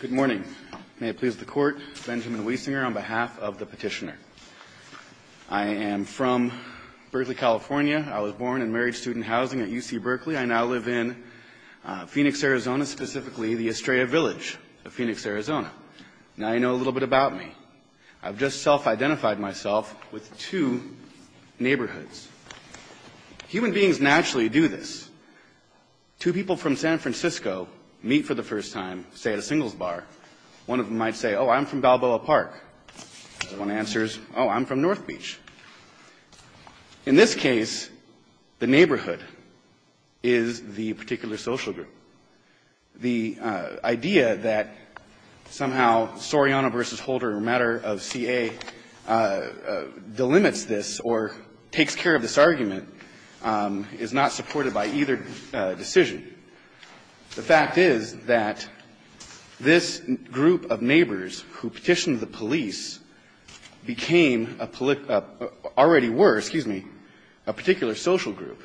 Good morning. May it please the Court, Benjamin Wiesinger on behalf of the Petitioner. I am from Berkeley, California. I was born and married student housing at UC Berkeley. I now live in Phoenix, Arizona, specifically the Estrella Village of Phoenix, Arizona. Now you know a little bit about me. I've just self-identified myself with two neighborhoods. Human beings naturally do this. Two people from San Francisco meet for the first time, say at a singles bar. One of them might say, oh, I'm from Balboa Park. The other one answers, oh, I'm from North Beach. In this case, the neighborhood is the particular social group. The idea that somehow Soriano v. Holder, a matter of CA, delimits this or takes care of this argument is not supported by either decision. The fact is that this group of neighbors who petitioned the police became a already were, excuse me, a particular social group,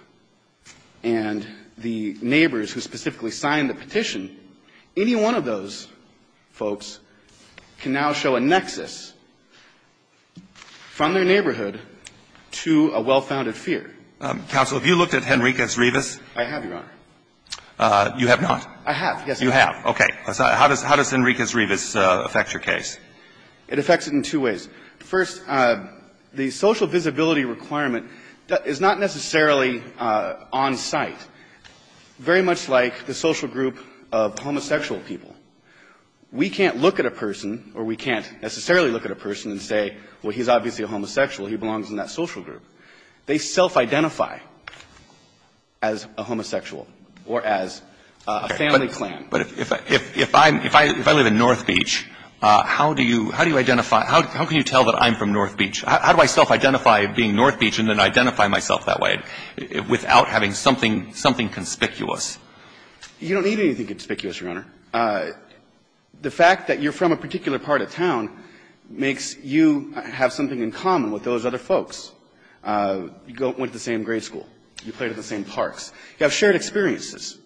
and the neighbors who specifically signed the petition, any one of those folks can now show a nexus from their neighborhood to a well-founded fear. Counsel, have you looked at Henriquez-Rivas? I have, Your Honor. You have not? I have, yes, I have. You have. Okay. How does Henriquez-Rivas affect your case? It affects it in two ways. First, the social visibility requirement is not necessarily on site, very much like the social group of homosexual people. We can't look at a person or we can't necessarily look at a person and say, well, he's obviously a homosexual, he belongs in that social group. They self-identify as a homosexual or as a family clan. But if I live in North Beach, how do you identify, how can you tell that I'm from North Beach? How do I self-identify being North Beach and then identify myself that way without having something conspicuous? You don't need anything conspicuous, Your Honor. The fact that you're from a particular part of town makes you have something in common with those other folks. You went to the same grade school. You played at the same parks. You have shared experiences,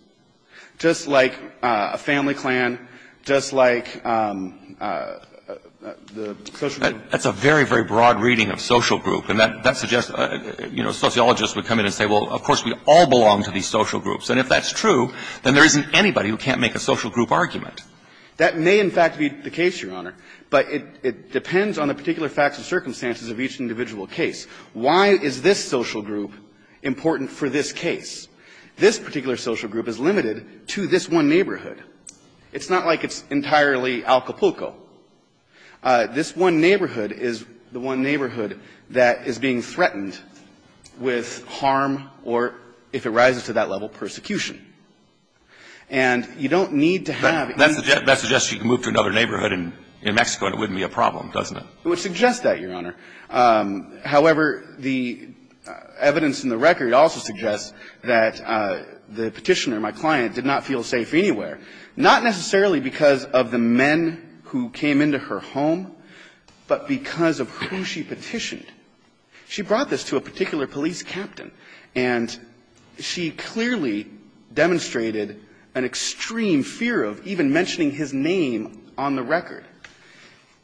just like a family clan, just like the social group. That's a very, very broad reading of social group, and that suggests, you know, sociologists would come in and say, well, of course, we all belong to these social groups. And if that's true, then there isn't anybody who can't make a social group argument. That may, in fact, be the case, Your Honor. But it depends on the particular facts and circumstances of each individual case. Why is this social group important for this case? This particular social group is limited to this one neighborhood. It's not like it's entirely Alcapulco. This one neighborhood is the one neighborhood that is being threatened with harm or, if it rises to that level, persecution. And you don't need to have any of that. That suggests you can move to another neighborhood in Mexico and it wouldn't be a problem, doesn't it? It would suggest that, Your Honor. However, the evidence in the record also suggests that the Petitioner, my client, did not feel safe anywhere, not necessarily because of the men who came into her home, but because of who she petitioned. She brought this to a particular police captain, and she clearly demonstrated an extreme fear of even mentioning his name on the record.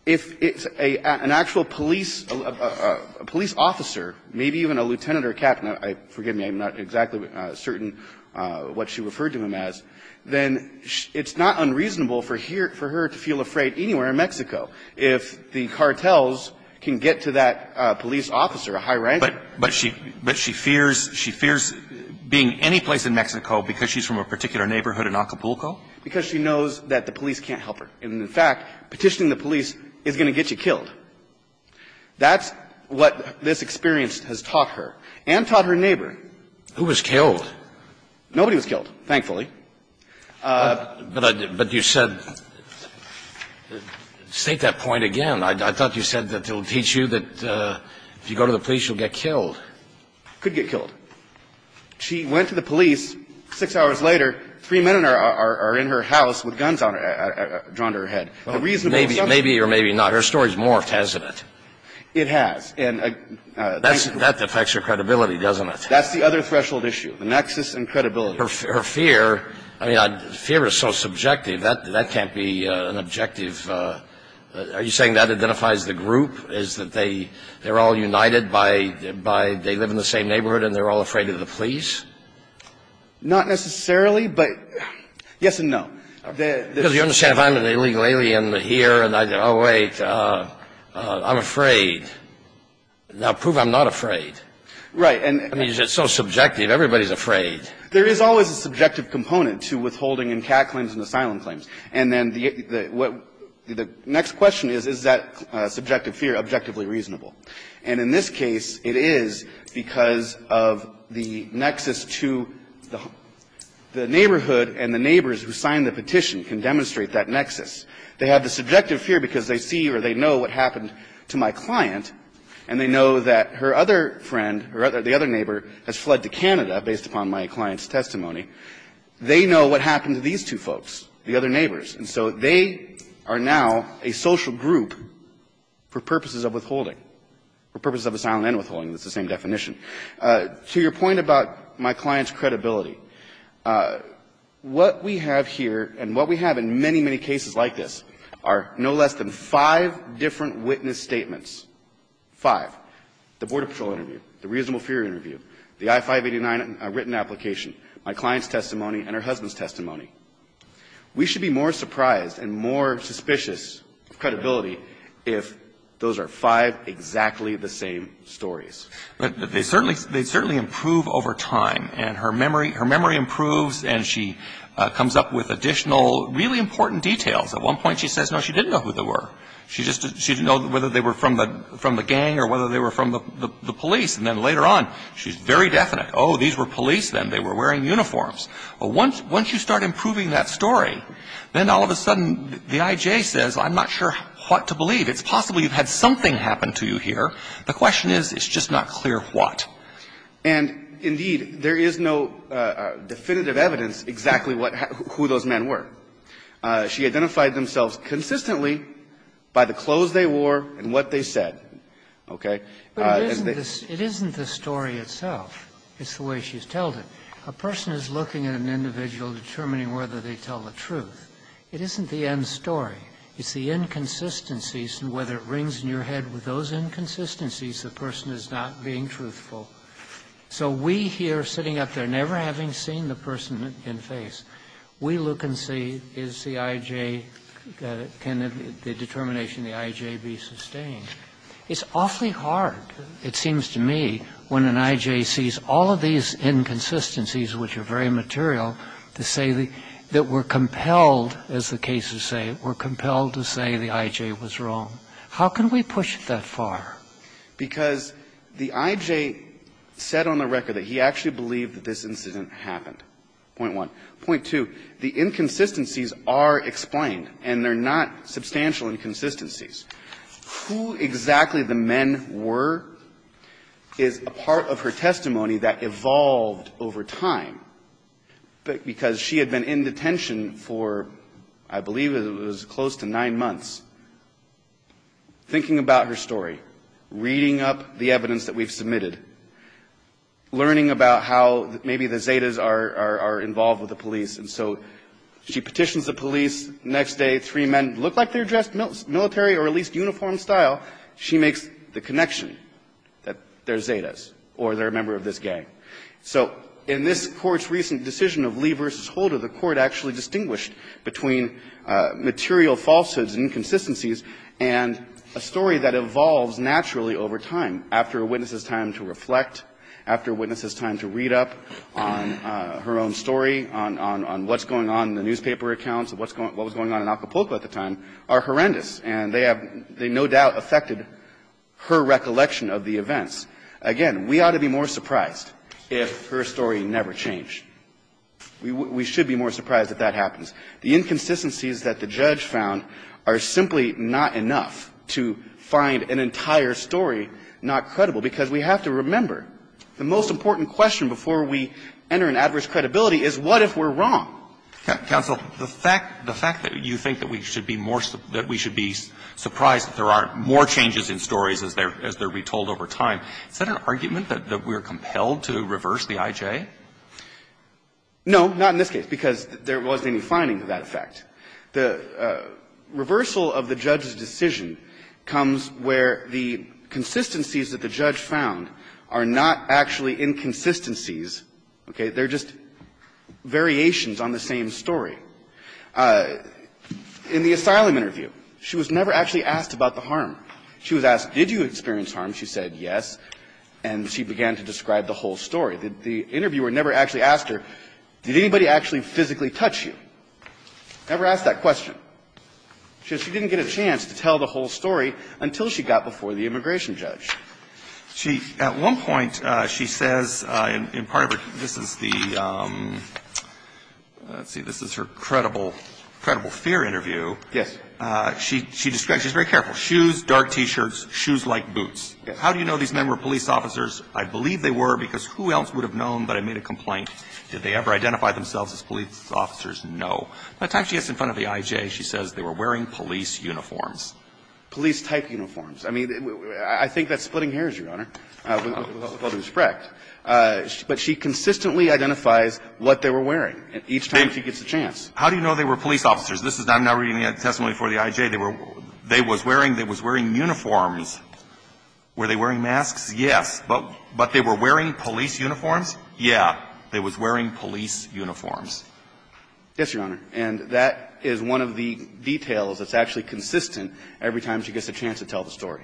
If it's an actual police officer, maybe even a lieutenant or captain, forgive me, I'm not exactly certain what she referred to him as, then it's not unreasonable for her to feel afraid anywhere in Mexico if the cartels can get to that police officer, a high-ranking. But she fears being anyplace in Mexico because she's from a particular neighborhood in Alcapulco? Because she knows that the police can't help her. And, in fact, petitioning the police is going to get you killed. That's what this experience has taught her and taught her neighbor. Who was killed? Nobody was killed, thankfully. But you said – state that point again. I thought you said that it will teach you that if you go to the police, you'll get killed. Could get killed. She went to the police, 6 hours later, 3 men are in her house with guns on her – drawn to her head. The reasonable assumption is that – Maybe or maybe not. Her story's morphed, hasn't it? It has. And – That affects her credibility, doesn't it? That's the other threshold issue, the nexus and credibility. Her fear – I mean, fear is so subjective. That can't be an objective – are you saying that identifies the group, is that they're all united by – they live in the same neighborhood and they're all afraid of the police? Not necessarily, but – yes and no. Because you understand, if I'm an illegal alien here and I go, oh, wait, I'm afraid. Now, prove I'm not afraid. Right. And – I mean, it's so subjective. Everybody's afraid. There is always a subjective component to withholding and CAT claims and asylum claims. And then the next question is, is that subjective fear objectively reasonable? And in this case, it is because of the nexus to – the neighborhood and the neighbors who signed the petition can demonstrate that nexus. They have the subjective fear because they see or they know what happened to my client, and they know that her other friend, the other neighbor, has fled to Canada based upon my client's testimony. They know what happened to these two folks. The other neighbors. And so they are now a social group for purposes of withholding, for purposes of asylum and withholding. That's the same definition. To your point about my client's credibility, what we have here and what we have in many, many cases like this are no less than five different witness statements. Five. The Border Patrol interview, the reasonable fear interview, the I-589 written application, my client's testimony, and her husband's testimony. We should be more surprised and more suspicious of credibility if those are five exactly the same stories. But they certainly improve over time. And her memory improves, and she comes up with additional really important details. At one point, she says, no, she didn't know who they were. She just – she didn't know whether they were from the gang or whether they were from the police. And then later on, she's very definite. Oh, these were police then. They were wearing uniforms. Once you start improving that story, then all of a sudden the IJ says, I'm not sure what to believe. It's possible you've had something happen to you here. The question is, it's just not clear what. And, indeed, there is no definitive evidence exactly what – who those men were. She identified themselves consistently by the clothes they wore and what they said. Okay? But it isn't the story itself. It's the way she's told it. A person is looking at an individual, determining whether they tell the truth. It isn't the end story. It's the inconsistencies, and whether it rings in your head with those inconsistencies, the person is not being truthful. So we here, sitting up there, never having seen the person in face, we look and see, is the IJ – can the determination of the IJ be sustained? It's awfully hard, it seems to me, when an IJ sees all of these inconsistencies, which are very material, to say that we're compelled, as the cases say, we're compelled to say the IJ was wrong. How can we push it that far? Because the IJ said on the record that he actually believed that this incident happened, point one. Point two, the inconsistencies are explained, and they're not substantial inconsistencies. Who exactly the men were is a part of her testimony that evolved over time, because she had been in detention for, I believe it was close to nine months, thinking about her story, reading up the evidence that we've submitted, learning about how maybe the Zetas are involved with the police. And so she petitions the police. Next day, three men look like they're dressed military or at least uniform style. She makes the connection that they're Zetas or they're a member of this gang. So in this Court's recent decision of Lee v. Holder, the Court actually distinguished between material falsehoods and inconsistencies and a story that evolves naturally over time, after a witness's time to reflect, after a witness's time to read up on her own story, on what's going on in the newspaper accounts, what was going on in Acapulco at the time, are horrendous. And they have no doubt affected her recollection of the events. Again, we ought to be more surprised if her story never changed. We should be more surprised if that happens. The inconsistencies that the judge found are simply not enough to find an entire story not credible, because we have to remember the most important question before we enter in adverse credibility is, what if we're wrong? Roberts, the fact that you think that we should be more, that we should be surprised that there are more changes in stories as they're retold over time, is that an argument that we're compelled to reverse the IJ? No, not in this case, because there wasn't any finding of that effect. The reversal of the judge's decision comes where the consistencies that the judge found are not actually inconsistencies, okay? They're just variations on the same story. In the asylum interview, she was never actually asked about the harm. She was asked, did you experience harm? She said yes, and she began to describe the whole story. The interviewer never actually asked her, did anybody actually physically touch you? Never asked that question. She said she didn't get a chance to tell the whole story until she got before the immigration judge. She, at one point, she says, in part of her, this is the, let's see, this is her credible, credible fear interview. Yes. She describes, she's very careful, shoes, dark T-shirts, shoes like boots. Yes. How do you know these men were police officers? I believe they were, because who else would have known but I made a complaint? Did they ever identify themselves as police officers? No. By the time she gets in front of the IJ, she says they were wearing police uniforms. Police-type uniforms. I mean, I think that's splitting hairs, Your Honor, with all due respect. But she consistently identifies what they were wearing each time she gets a chance. How do you know they were police officers? This is, I'm now reading a testimony for the IJ. They were, they was wearing, they was wearing uniforms. Were they wearing masks? Yes. But they were wearing police uniforms? Yeah. They was wearing police uniforms. Yes, Your Honor. And that is one of the details that's actually consistent every time she gets a chance to tell the story.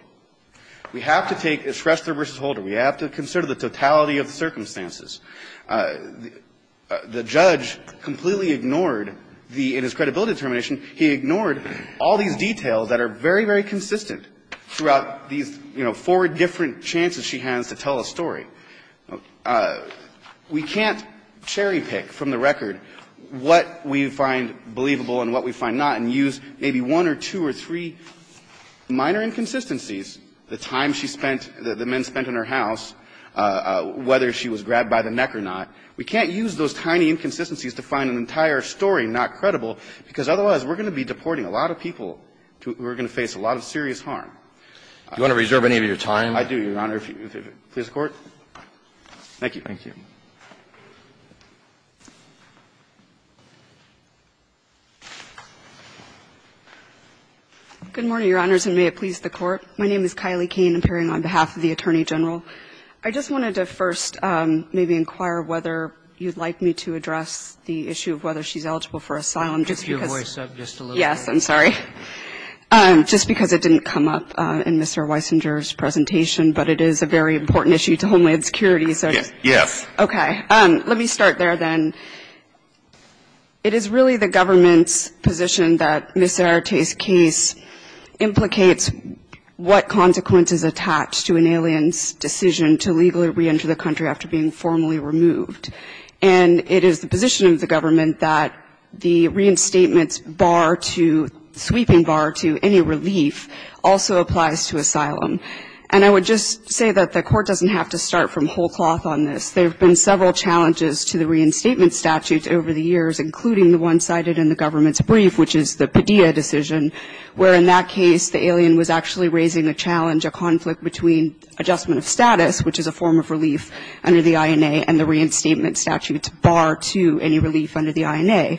We have to take Schrester v. Holder. We have to consider the totality of the circumstances. The judge completely ignored the, in his credibility determination, he ignored all these details that are very, very consistent throughout these, you know, four different chances she has to tell a story. We can't cherry-pick from the record what we find believable and what we find not and we can't use maybe one or two or three minor inconsistencies, the time she spent, the men spent in her house, whether she was grabbed by the neck or not. We can't use those tiny inconsistencies to find an entire story not credible, because otherwise we're going to be deporting a lot of people who are going to face a lot of serious harm. Do you want to reserve any of your time? I do, Your Honor. Please record. Thank you. Thank you. Good morning, Your Honors, and may it please the Court. My name is Kylie Cain, appearing on behalf of the Attorney General. I just wanted to first maybe inquire whether you'd like me to address the issue of whether she's eligible for asylum, just because of the issue of homeland security. Yes, I'm sorry. Just because it didn't come up in Mr. Weisinger's presentation, but it is a very important issue to homeland security. Yes. Okay. Let me start there, then. It is really the government's position that Ms. Zarate's case implicates what consequences attach to an alien's decision to legally reenter the country after being formally removed. And it is the position of the government that the reinstatement's bar to – sweeping bar to any relief also applies to asylum. And I would just say that the Court doesn't have to start from whole cloth on this. There have been several challenges to the reinstatement statutes over the years, including the one cited in the government's brief, which is the Padilla decision, where in that case, the alien was actually raising the challenge of conflict between adjustment of status, which is a form of relief under the INA, and the reinstatement statute's bar to any relief under the INA.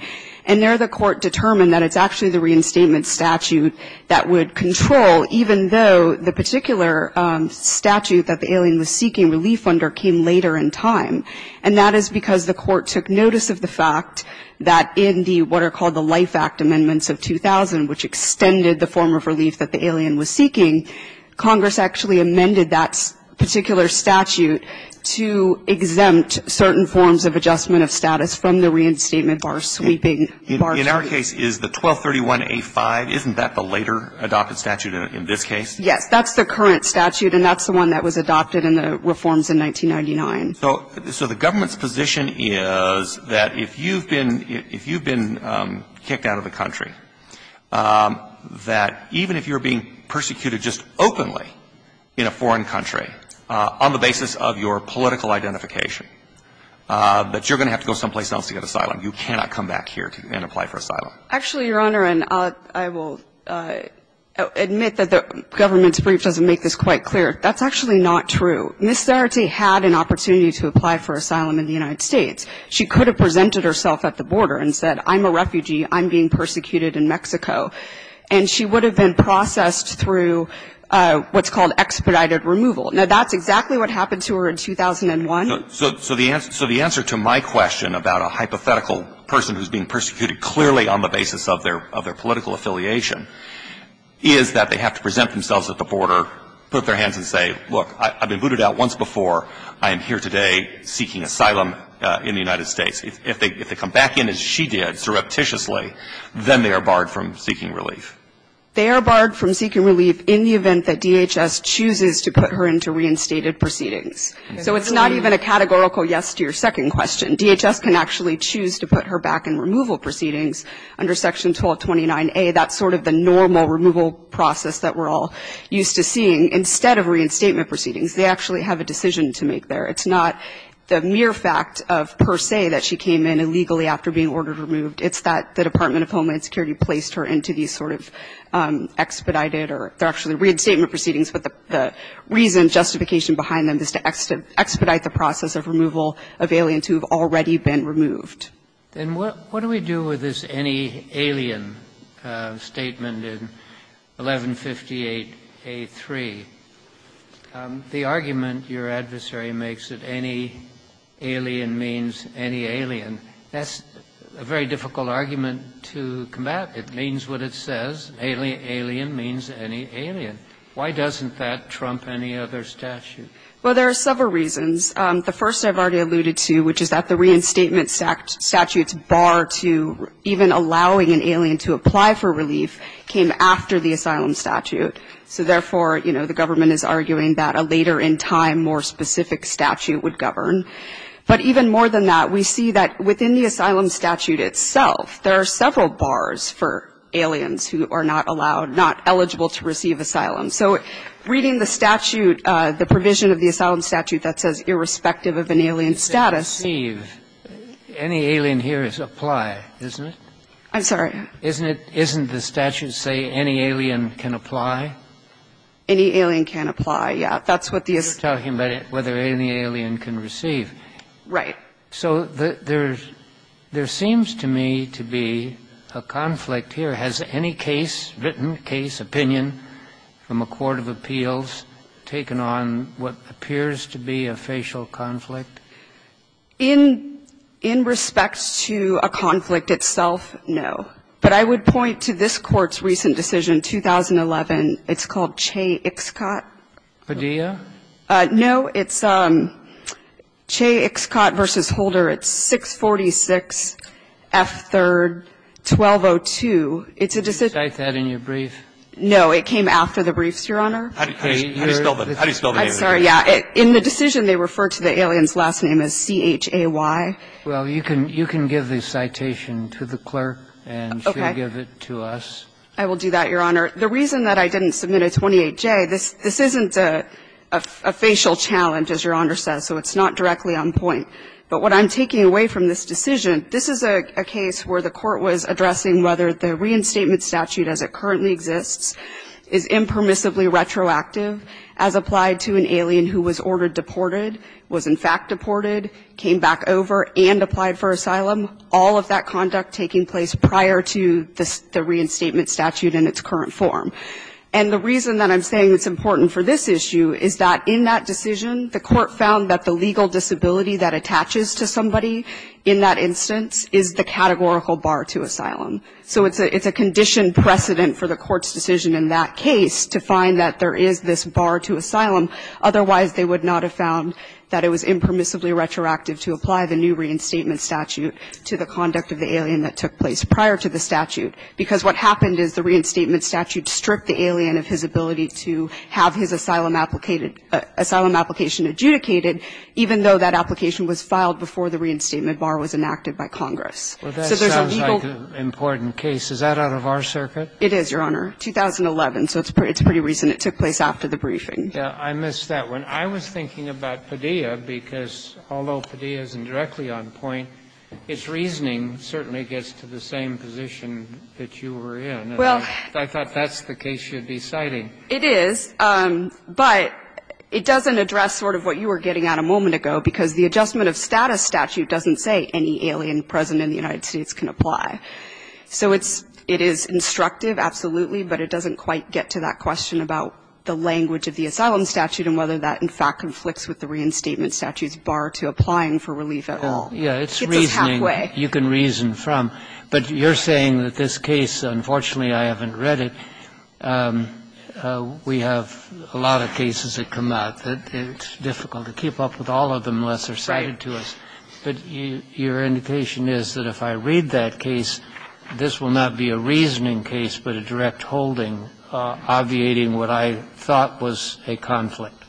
And there, the Court determined that it's actually the reinstatement statute that would control, even though the particular statute that the alien was seeking, relief under, came later in time. And that is because the Court took notice of the fact that in the, what are called the Life Act Amendments of 2000, which extended the form of relief that the alien was seeking, Congress actually amended that particular statute to exempt certain forms of adjustment of status from the reinstatement bar sweeping bar to any relief. And in this case, is the 1231A5, isn't that the later adopted statute in this case? Yes. That's the current statute, and that's the one that was adopted in the reforms in 1999. So, so the government's position is that if you've been, if you've been kicked out of the country, that even if you're being persecuted just openly in a foreign country, on the basis of your political identification, that you're going to have to go someplace else to get asylum. You cannot come back here and apply for asylum. Actually, Your Honor, and I will admit that the government's brief doesn't make this quite clear. That's actually not true. Ms. Zarate had an opportunity to apply for asylum in the United States. She could have presented herself at the border and said, I'm a refugee, I'm being persecuted in Mexico, and she would have been processed through what's called expedited removal. Now, that's exactly what happened to her in 2001. So, so the answer, so the answer to my question about a hypothetical person who's being persecuted clearly on the basis of their, of their political affiliation is that they have to present themselves at the border, put up their hands and say, look, I've been booted out once before. I am here today seeking asylum in the United States. If they, if they come back in as she did, surreptitiously, then they are barred from seeking relief. They are barred from seeking relief in the event that DHS chooses to put her into reinstated proceedings. So it's not even a categorical yes to your second question. DHS can actually choose to put her back in removal proceedings under Section 1229A. That's sort of the normal removal process that we're all used to seeing. Instead of reinstatement proceedings, they actually have a decision to make there. It's not the mere fact of per se that she came in illegally after being ordered removed. It's that the Department of Homeland Security placed her into these sort of expedited is to expedite the process of removal of aliens who have already been removed. Then what do we do with this any alien statement in 1158A.3? The argument your adversary makes that any alien means any alien, that's a very difficult argument to combat. It means what it says, alien means any alien. Why doesn't that trump any other statute? Well, there are several reasons. The first I've already alluded to, which is that the reinstatement statute's bar to even allowing an alien to apply for relief came after the asylum statute. So therefore, you know, the government is arguing that a later in time more specific statute would govern. But even more than that, we see that within the asylum statute itself, there are several bars for aliens who are not allowed, not eligible to receive asylum. So reading the statute, the provision of the asylum statute that says irrespective of an alien status. Receive, any alien here is apply, isn't it? I'm sorry. Isn't it, isn't the statute say any alien can apply? Any alien can apply. Yeah, that's what the. You're talking about whether any alien can receive. Right. So there's, there seems to me to be a conflict here. Has any case, written case, opinion from a court of appeals taken on what appears to be a facial conflict? In, in respect to a conflict itself, no. But I would point to this court's recent decision, 2011. It's called Chay-Ixcot. Padilla? No, it's Chay-Ixcot v. Holder. It's 646F3-1202. It's a decision. Did you cite that in your brief? No. It came after the briefs, Your Honor. How do you spell the name of it? I'm sorry. Yeah. In the decision, they refer to the alien's last name as C-H-A-Y. Well, you can, you can give the citation to the clerk and she'll give it to us. I will do that, Your Honor. The reason that I didn't submit a 28-J, this, this isn't a, a facial challenge, as Your Honor says. So it's not directly on point. But what I'm taking away from this decision, this is a case where the court was addressing whether the reinstatement statute as it currently exists is impermissibly retroactive as applied to an alien who was ordered deported, was in fact deported, came back over, and applied for asylum. All of that conduct taking place prior to the, the reinstatement statute in its current form. And the reason that I'm saying it's important for this issue is that in that decision, the court found that the legal disability that attaches to somebody in that instance is the categorical bar to asylum. So it's a, it's a condition precedent for the court's decision in that case to find that there is this bar to asylum. Otherwise, they would not have found that it was impermissibly retroactive to apply the new reinstatement statute to the conduct of the alien that took place prior to the statute. Because what happened is the reinstatement statute stripped the alien of his ability to have his asylum application adjudicated, even though that application was filed before the reinstatement bar was enacted by Congress. So there's a legal question. Roberts, that sounds like an important case. Is that out of our circuit? It is, Your Honor, 2011. So it's pretty recent. It took place after the briefing. Yeah, I missed that one. I was thinking about Padilla, because although Padilla is indirectly on point, its reasoning certainly gets to the same position that you were in. Well. I thought that's the case you'd be citing. It is, but it doesn't address sort of what you were getting at a moment ago, because the adjustment of status statute doesn't say any alien present in the United States can apply. So it's – it is instructive, absolutely, but it doesn't quite get to that question about the language of the asylum statute and whether that, in fact, conflicts with the reinstatement statute's bar to applying for relief at all. Yeah, it's reasoning you can reason from. But you're saying that this case – unfortunately, I haven't read it. We have a lot of cases that come out that it's difficult to keep up with all of them unless they're cited to us. But your indication is that if I read that case, this will not be a reasoning case, but a direct holding, obviating what I thought was a conflict.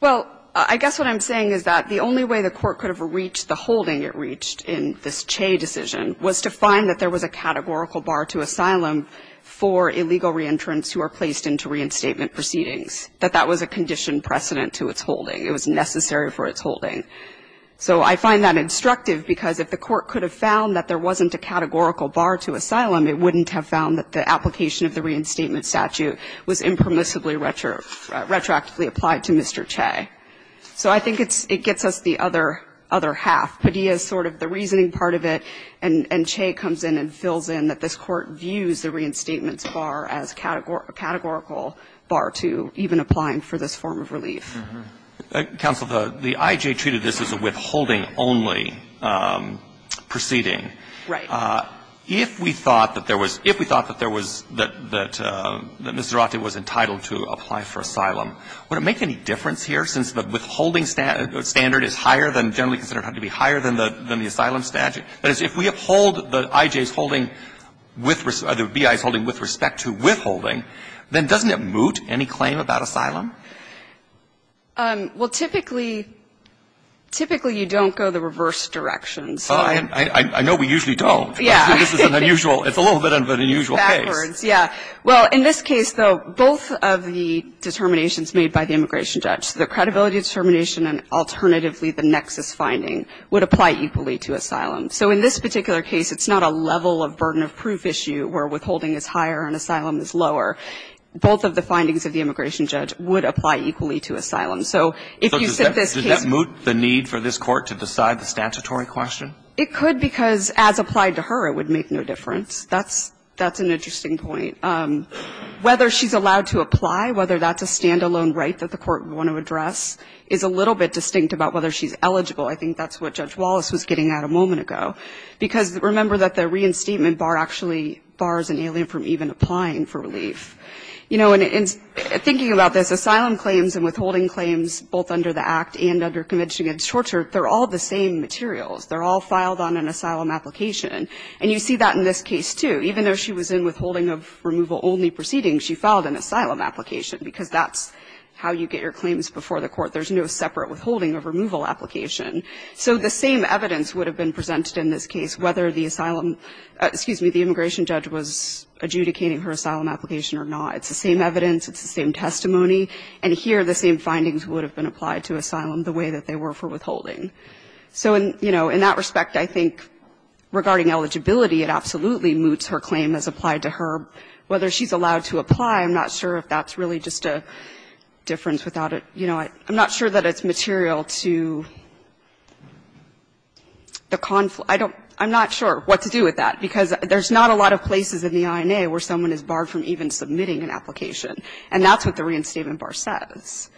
Well, I guess what I'm saying is that the only way the Court could have reached the holding it reached in this Che decision was to find that there was a categorical bar to asylum for illegal reentrants who are placed into reinstatement proceedings, that that was a condition precedent to its holding. It was necessary for its holding. So I find that instructive because if the Court could have found that there wasn't a categorical bar to asylum, it wouldn't have found that the application of the reinstatement statute was impermissibly retroactively applied to Mr. Che. So I think it's – it gets us the other half. Padilla is sort of the reasoning part of it, and Che comes in and fills in that this Court views the reinstatement bar as a categorical bar to even applying for this form of relief. Counsel, the I.J. treated this as a withholding-only proceeding. Right. If we thought that there was – if we thought that there was – that Mr. Zarate was entitled to apply for asylum, would it make any difference here since the withholding standard is higher than – generally considered to be higher than the asylum statute? That is, if we uphold the I.J.'s holding with – or the B.I.'s holding with respect to withholding, then doesn't it moot any claim about asylum? Well, typically – typically, you don't go the reverse direction. I know we usually don't, but this is an unusual – it's a little bit of an unusual case. Backwards, yeah. Well, in this case, though, both of the determinations made by the immigration judge, the credibility determination and alternatively the nexus finding, would apply equally to asylum. So in this particular case, it's not a level of burden of proof issue where withholding is higher and asylum is lower. Both of the findings of the immigration judge would apply equally to asylum. So if you said this case – So does that – does that moot the need for this Court to decide the statutory question? It could, because as applied to her, it would make no difference. That's – that's an interesting point. Whether she's allowed to apply, whether that's a stand-alone right that the Court would want to address, is a little bit distinct about whether she's eligible. I think that's what Judge Wallace was getting at a moment ago. Because remember that the reinstatement bar actually bars an alien from even applying for relief. You know, and thinking about this, asylum claims and withholding claims, both under the Act and under Convention Against Torture, they're all the same materials. They're all filed on an asylum application. And you see that in this case, too. Even though she was in withholding of removal-only proceedings, she filed an asylum application, because that's how you get your claims before the Court. There's no separate withholding of removal application. So the same evidence would have been presented in this case, whether the asylum – excuse me, the immigration judge was adjudicating her asylum application or not. It's the same evidence. It's the same testimony. And here, the same findings would have been applied to asylum the way that they were for withholding. So in, you know, in that respect, I think regarding eligibility, it absolutely moots her claim as applied to her. Whether she's allowed to apply, I'm not sure if that's really just a difference without a – you know. I'm not sure that it's material to the conflict. I don't – I'm not sure what to do with that, because there's not a lot of places in the INA where someone is barred from even submitting an application. And that's what the reinstatement bar says,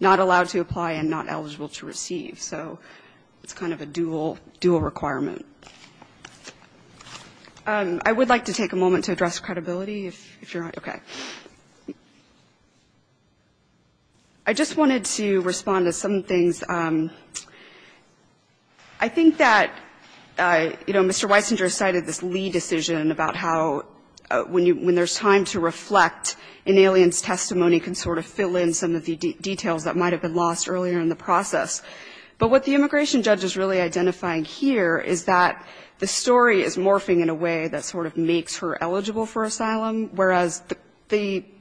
not allowed to apply and not eligible to receive. So it's kind of a dual – dual requirement. I would like to take a moment to address credibility, if you're – okay. I just wanted to respond to some things. I think that, you know, Mr. Weissinger cited this Lee decision about how when you – when there's time to reflect, an alien's testimony can sort of fill in some of the details that might have been lost earlier in the process. But what the immigration judge is really identifying here is that the story is morphing in a way that sort of makes her eligible for asylum, whereas the thing that's the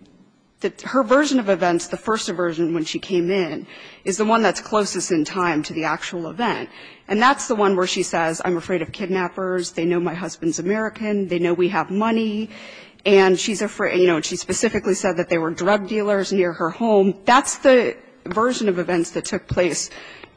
– her version of events, the first version when she came in, is the one that's closest in time to the actual event. And that's the one where she says, I'm afraid of kidnappers. They know my husband's American. They know we have money. And she's afraid – you know, and she specifically said that there were drug dealers near her home. That's the version of events that took place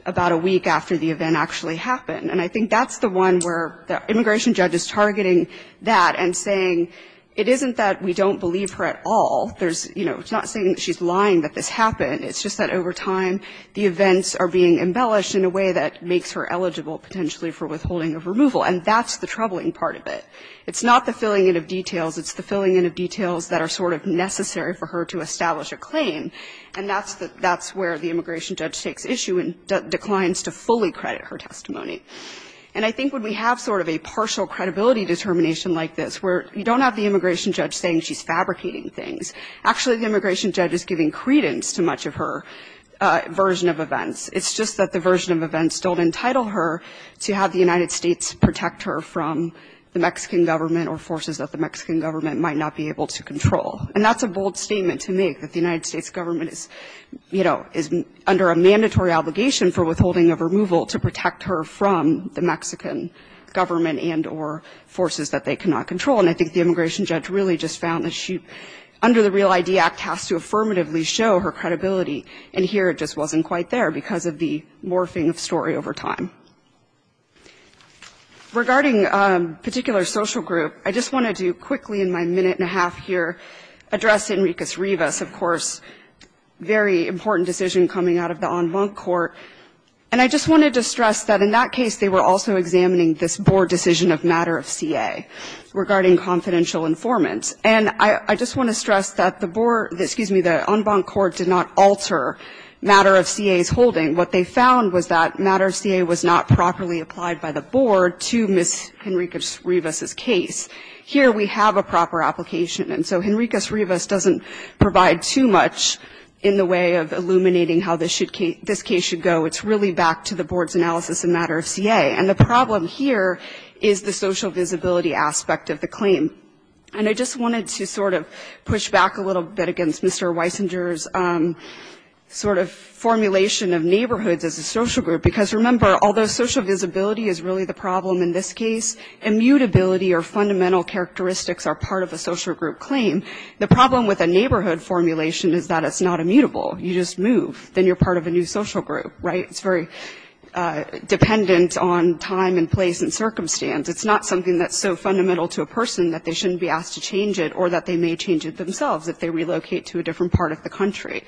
about a week after the event actually happened. And I think that's the one where the immigration judge is targeting that and saying, it isn't that we don't believe her at all. There's – you know, it's not saying that she's lying that this happened. It's just that over time, the events are being embellished in a way that makes her eligible potentially for withholding of removal. And that's the troubling part of it. It's not the filling in of details. It's the filling in of details that are sort of necessary for her to establish a claim. And that's the – that's where the immigration judge takes issue and declines to fully credit her testimony. And I think when we have sort of a partial credibility determination like this, where you don't have the immigration judge saying she's fabricating things. Actually, the immigration judge is giving credence to much of her version of events. It's just that the version of events don't entitle her to have the United States protect her from the Mexican government or forces that the Mexican government might not be able to control. And that's a bold statement to make, that the United States government is – you know, is under a mandatory obligation for withholding of removal to protect her from the Mexican government and or forces that they cannot control. And I think the immigration judge really just found that she, under the REAL-ID Act, has to affirmatively show her credibility. And here it just wasn't quite there because of the morphing of story over time. Regarding a particular social group, I just wanted to quickly in my minute and a half here address Enriquez-Rivas, of course, very important decision coming out of the en banc court. And I just wanted to stress that in that case, they were also examining this board decision of matter of CA regarding confidential informant. And I just want to stress that the board – excuse me, the en banc court did not alter matter of CA's holding. What they found was that matter of CA was not properly applied by the board to Ms. Enriquez-Rivas' case. Here we have a proper application. And so Enriquez-Rivas doesn't provide too much in the way of illuminating how this case should go. It's really back to the board's analysis in matter of CA. And the problem here is the social visibility aspect of the claim. And I just wanted to sort of push back a little bit against Mr. Weisinger's sort of formulation of neighborhoods as a social group. Because remember, although social visibility is really the problem in this case, immutability or fundamental characteristics are part of a social group claim. The problem with a neighborhood formulation is that it's not immutable. You just move. Then you're part of a new social group, right? It's very dependent on time and place and circumstance. It's not something that's so fundamental to a person that they shouldn't be asked to change it or that they may change it themselves if they relocate to a different part of the country.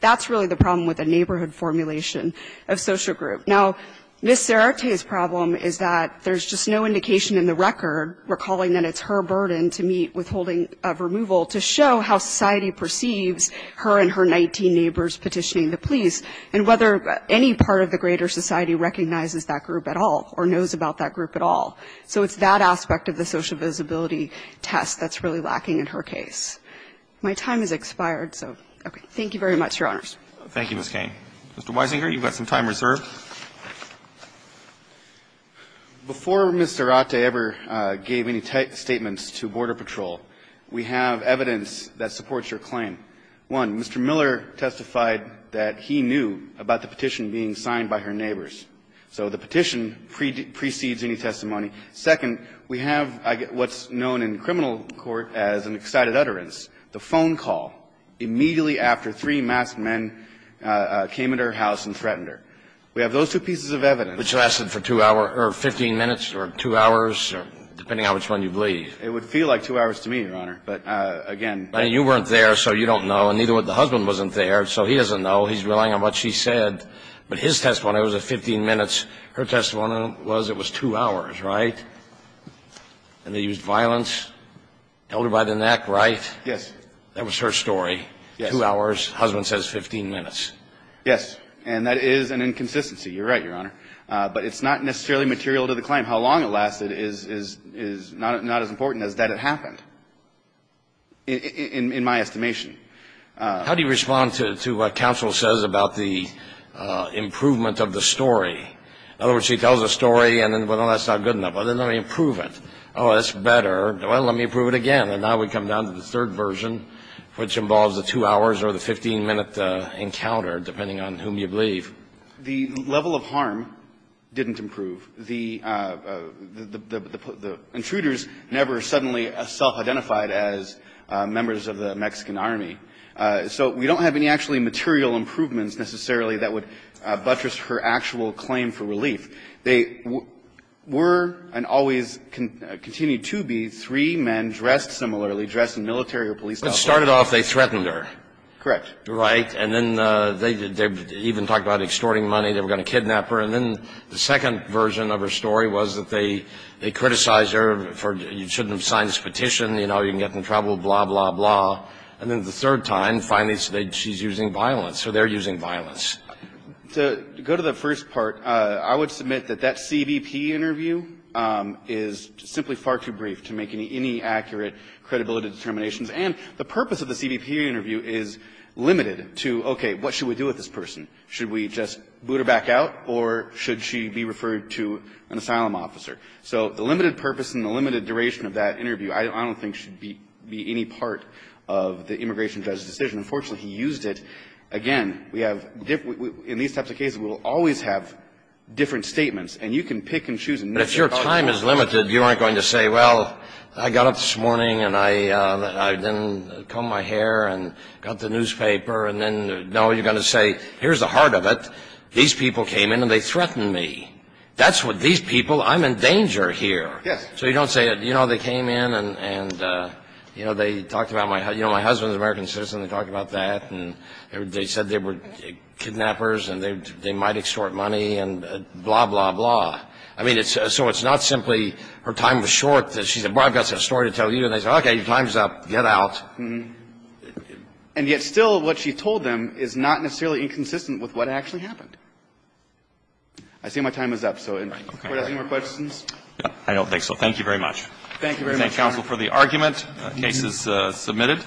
That's really the problem with a neighborhood formulation of social group. Now, Ms. Cerrete's problem is that there's just no indication in the record, recalling that it's her burden to meet withholding of removal, to show how society neighbors petitioning the police, and whether any part of the greater society recognizes that group at all or knows about that group at all. So it's that aspect of the social visibility test that's really lacking in her case. My time has expired, so, okay. Thank you very much, Your Honors. Roberts. Roberts. Thank you, Ms. Cain. Mr. Weisinger, you've got some time reserved. Weisinger. Before Ms. Cerrete ever gave any statements to Border Patrol, we have evidence that supports her claim. One, Mr. Miller testified that he knew about the petition being signed by her neighbors. So the petition precedes any testimony. Second, we have what's known in criminal court as an excited utterance, the phone call immediately after three masked men came at her house and threatened her. We have those two pieces of evidence. But you lasted for two hours or 15 minutes or two hours, depending on which one you believe. I mean, you weren't there, so you don't know, and neither would the husband wasn't there, so he doesn't know. He's relying on what she said. But his testimony, it was 15 minutes. Her testimony was it was two hours, right? And they used violence, held her by the neck, right? Yes. That was her story, two hours. Husband says 15 minutes. Yes. And that is an inconsistency. You're right, Your Honor. But it's not necessarily material to the claim. How long it lasted is not as important as that it happened. In my estimation. How do you respond to what counsel says about the improvement of the story? In other words, she tells a story and then, well, that's not good enough. Well, then let me improve it. Oh, that's better. Well, let me improve it again. And now we come down to the third version, which involves the two hours or the 15-minute encounter, depending on whom you believe. The level of harm didn't improve. The intruders never suddenly self-identified as members of the Mexican Army. So we don't have any actually material improvements necessarily that would buttress her actual claim for relief. They were and always continue to be three men dressed similarly, dressed in military or police outfits. But it started off, they threatened her. Correct. Right. And then they even talked about extorting money. They were going to kidnap her. And then the second version of her story was that they criticized her for you shouldn't have signed this petition. You know, you can get in trouble, blah, blah, blah. And then the third time, finally, she's using violence. So they're using violence. To go to the first part, I would submit that that CBP interview is simply far too brief to make any accurate credibility determinations. And the purpose of the CBP interview is limited to, okay, what should we do with this person? Should we just boot her back out, or should she be referred to an asylum officer? So the limited purpose and the limited duration of that interview I don't think should be any part of the immigration judge's decision. Unfortunately, he used it. Again, we have, in these types of cases, we will always have different statements. And you can pick and choose. But if your time is limited, you aren't going to say, well, I got up this morning and I didn't comb my hair and got the newspaper, and then, no, you're going to say, here's the heart of it. These people came in and they threatened me. That's what these people, I'm in danger here. So you don't say, you know, they came in and, you know, they talked about my, you know, my husband's an American citizen. They talked about that. And they said they were kidnappers and they might extort money and blah, blah, blah. I mean, so it's not simply her time was short that she said, well, I've got some story to tell you. And they said, okay, your time's up. Get out. And yet still what she told them is not necessarily inconsistent with what actually happened. I see my time is up. So do we have any more questions? I don't think so. Thank you very much. Thank you very much, Your Honor. We thank counsel for the argument. The case is submitted.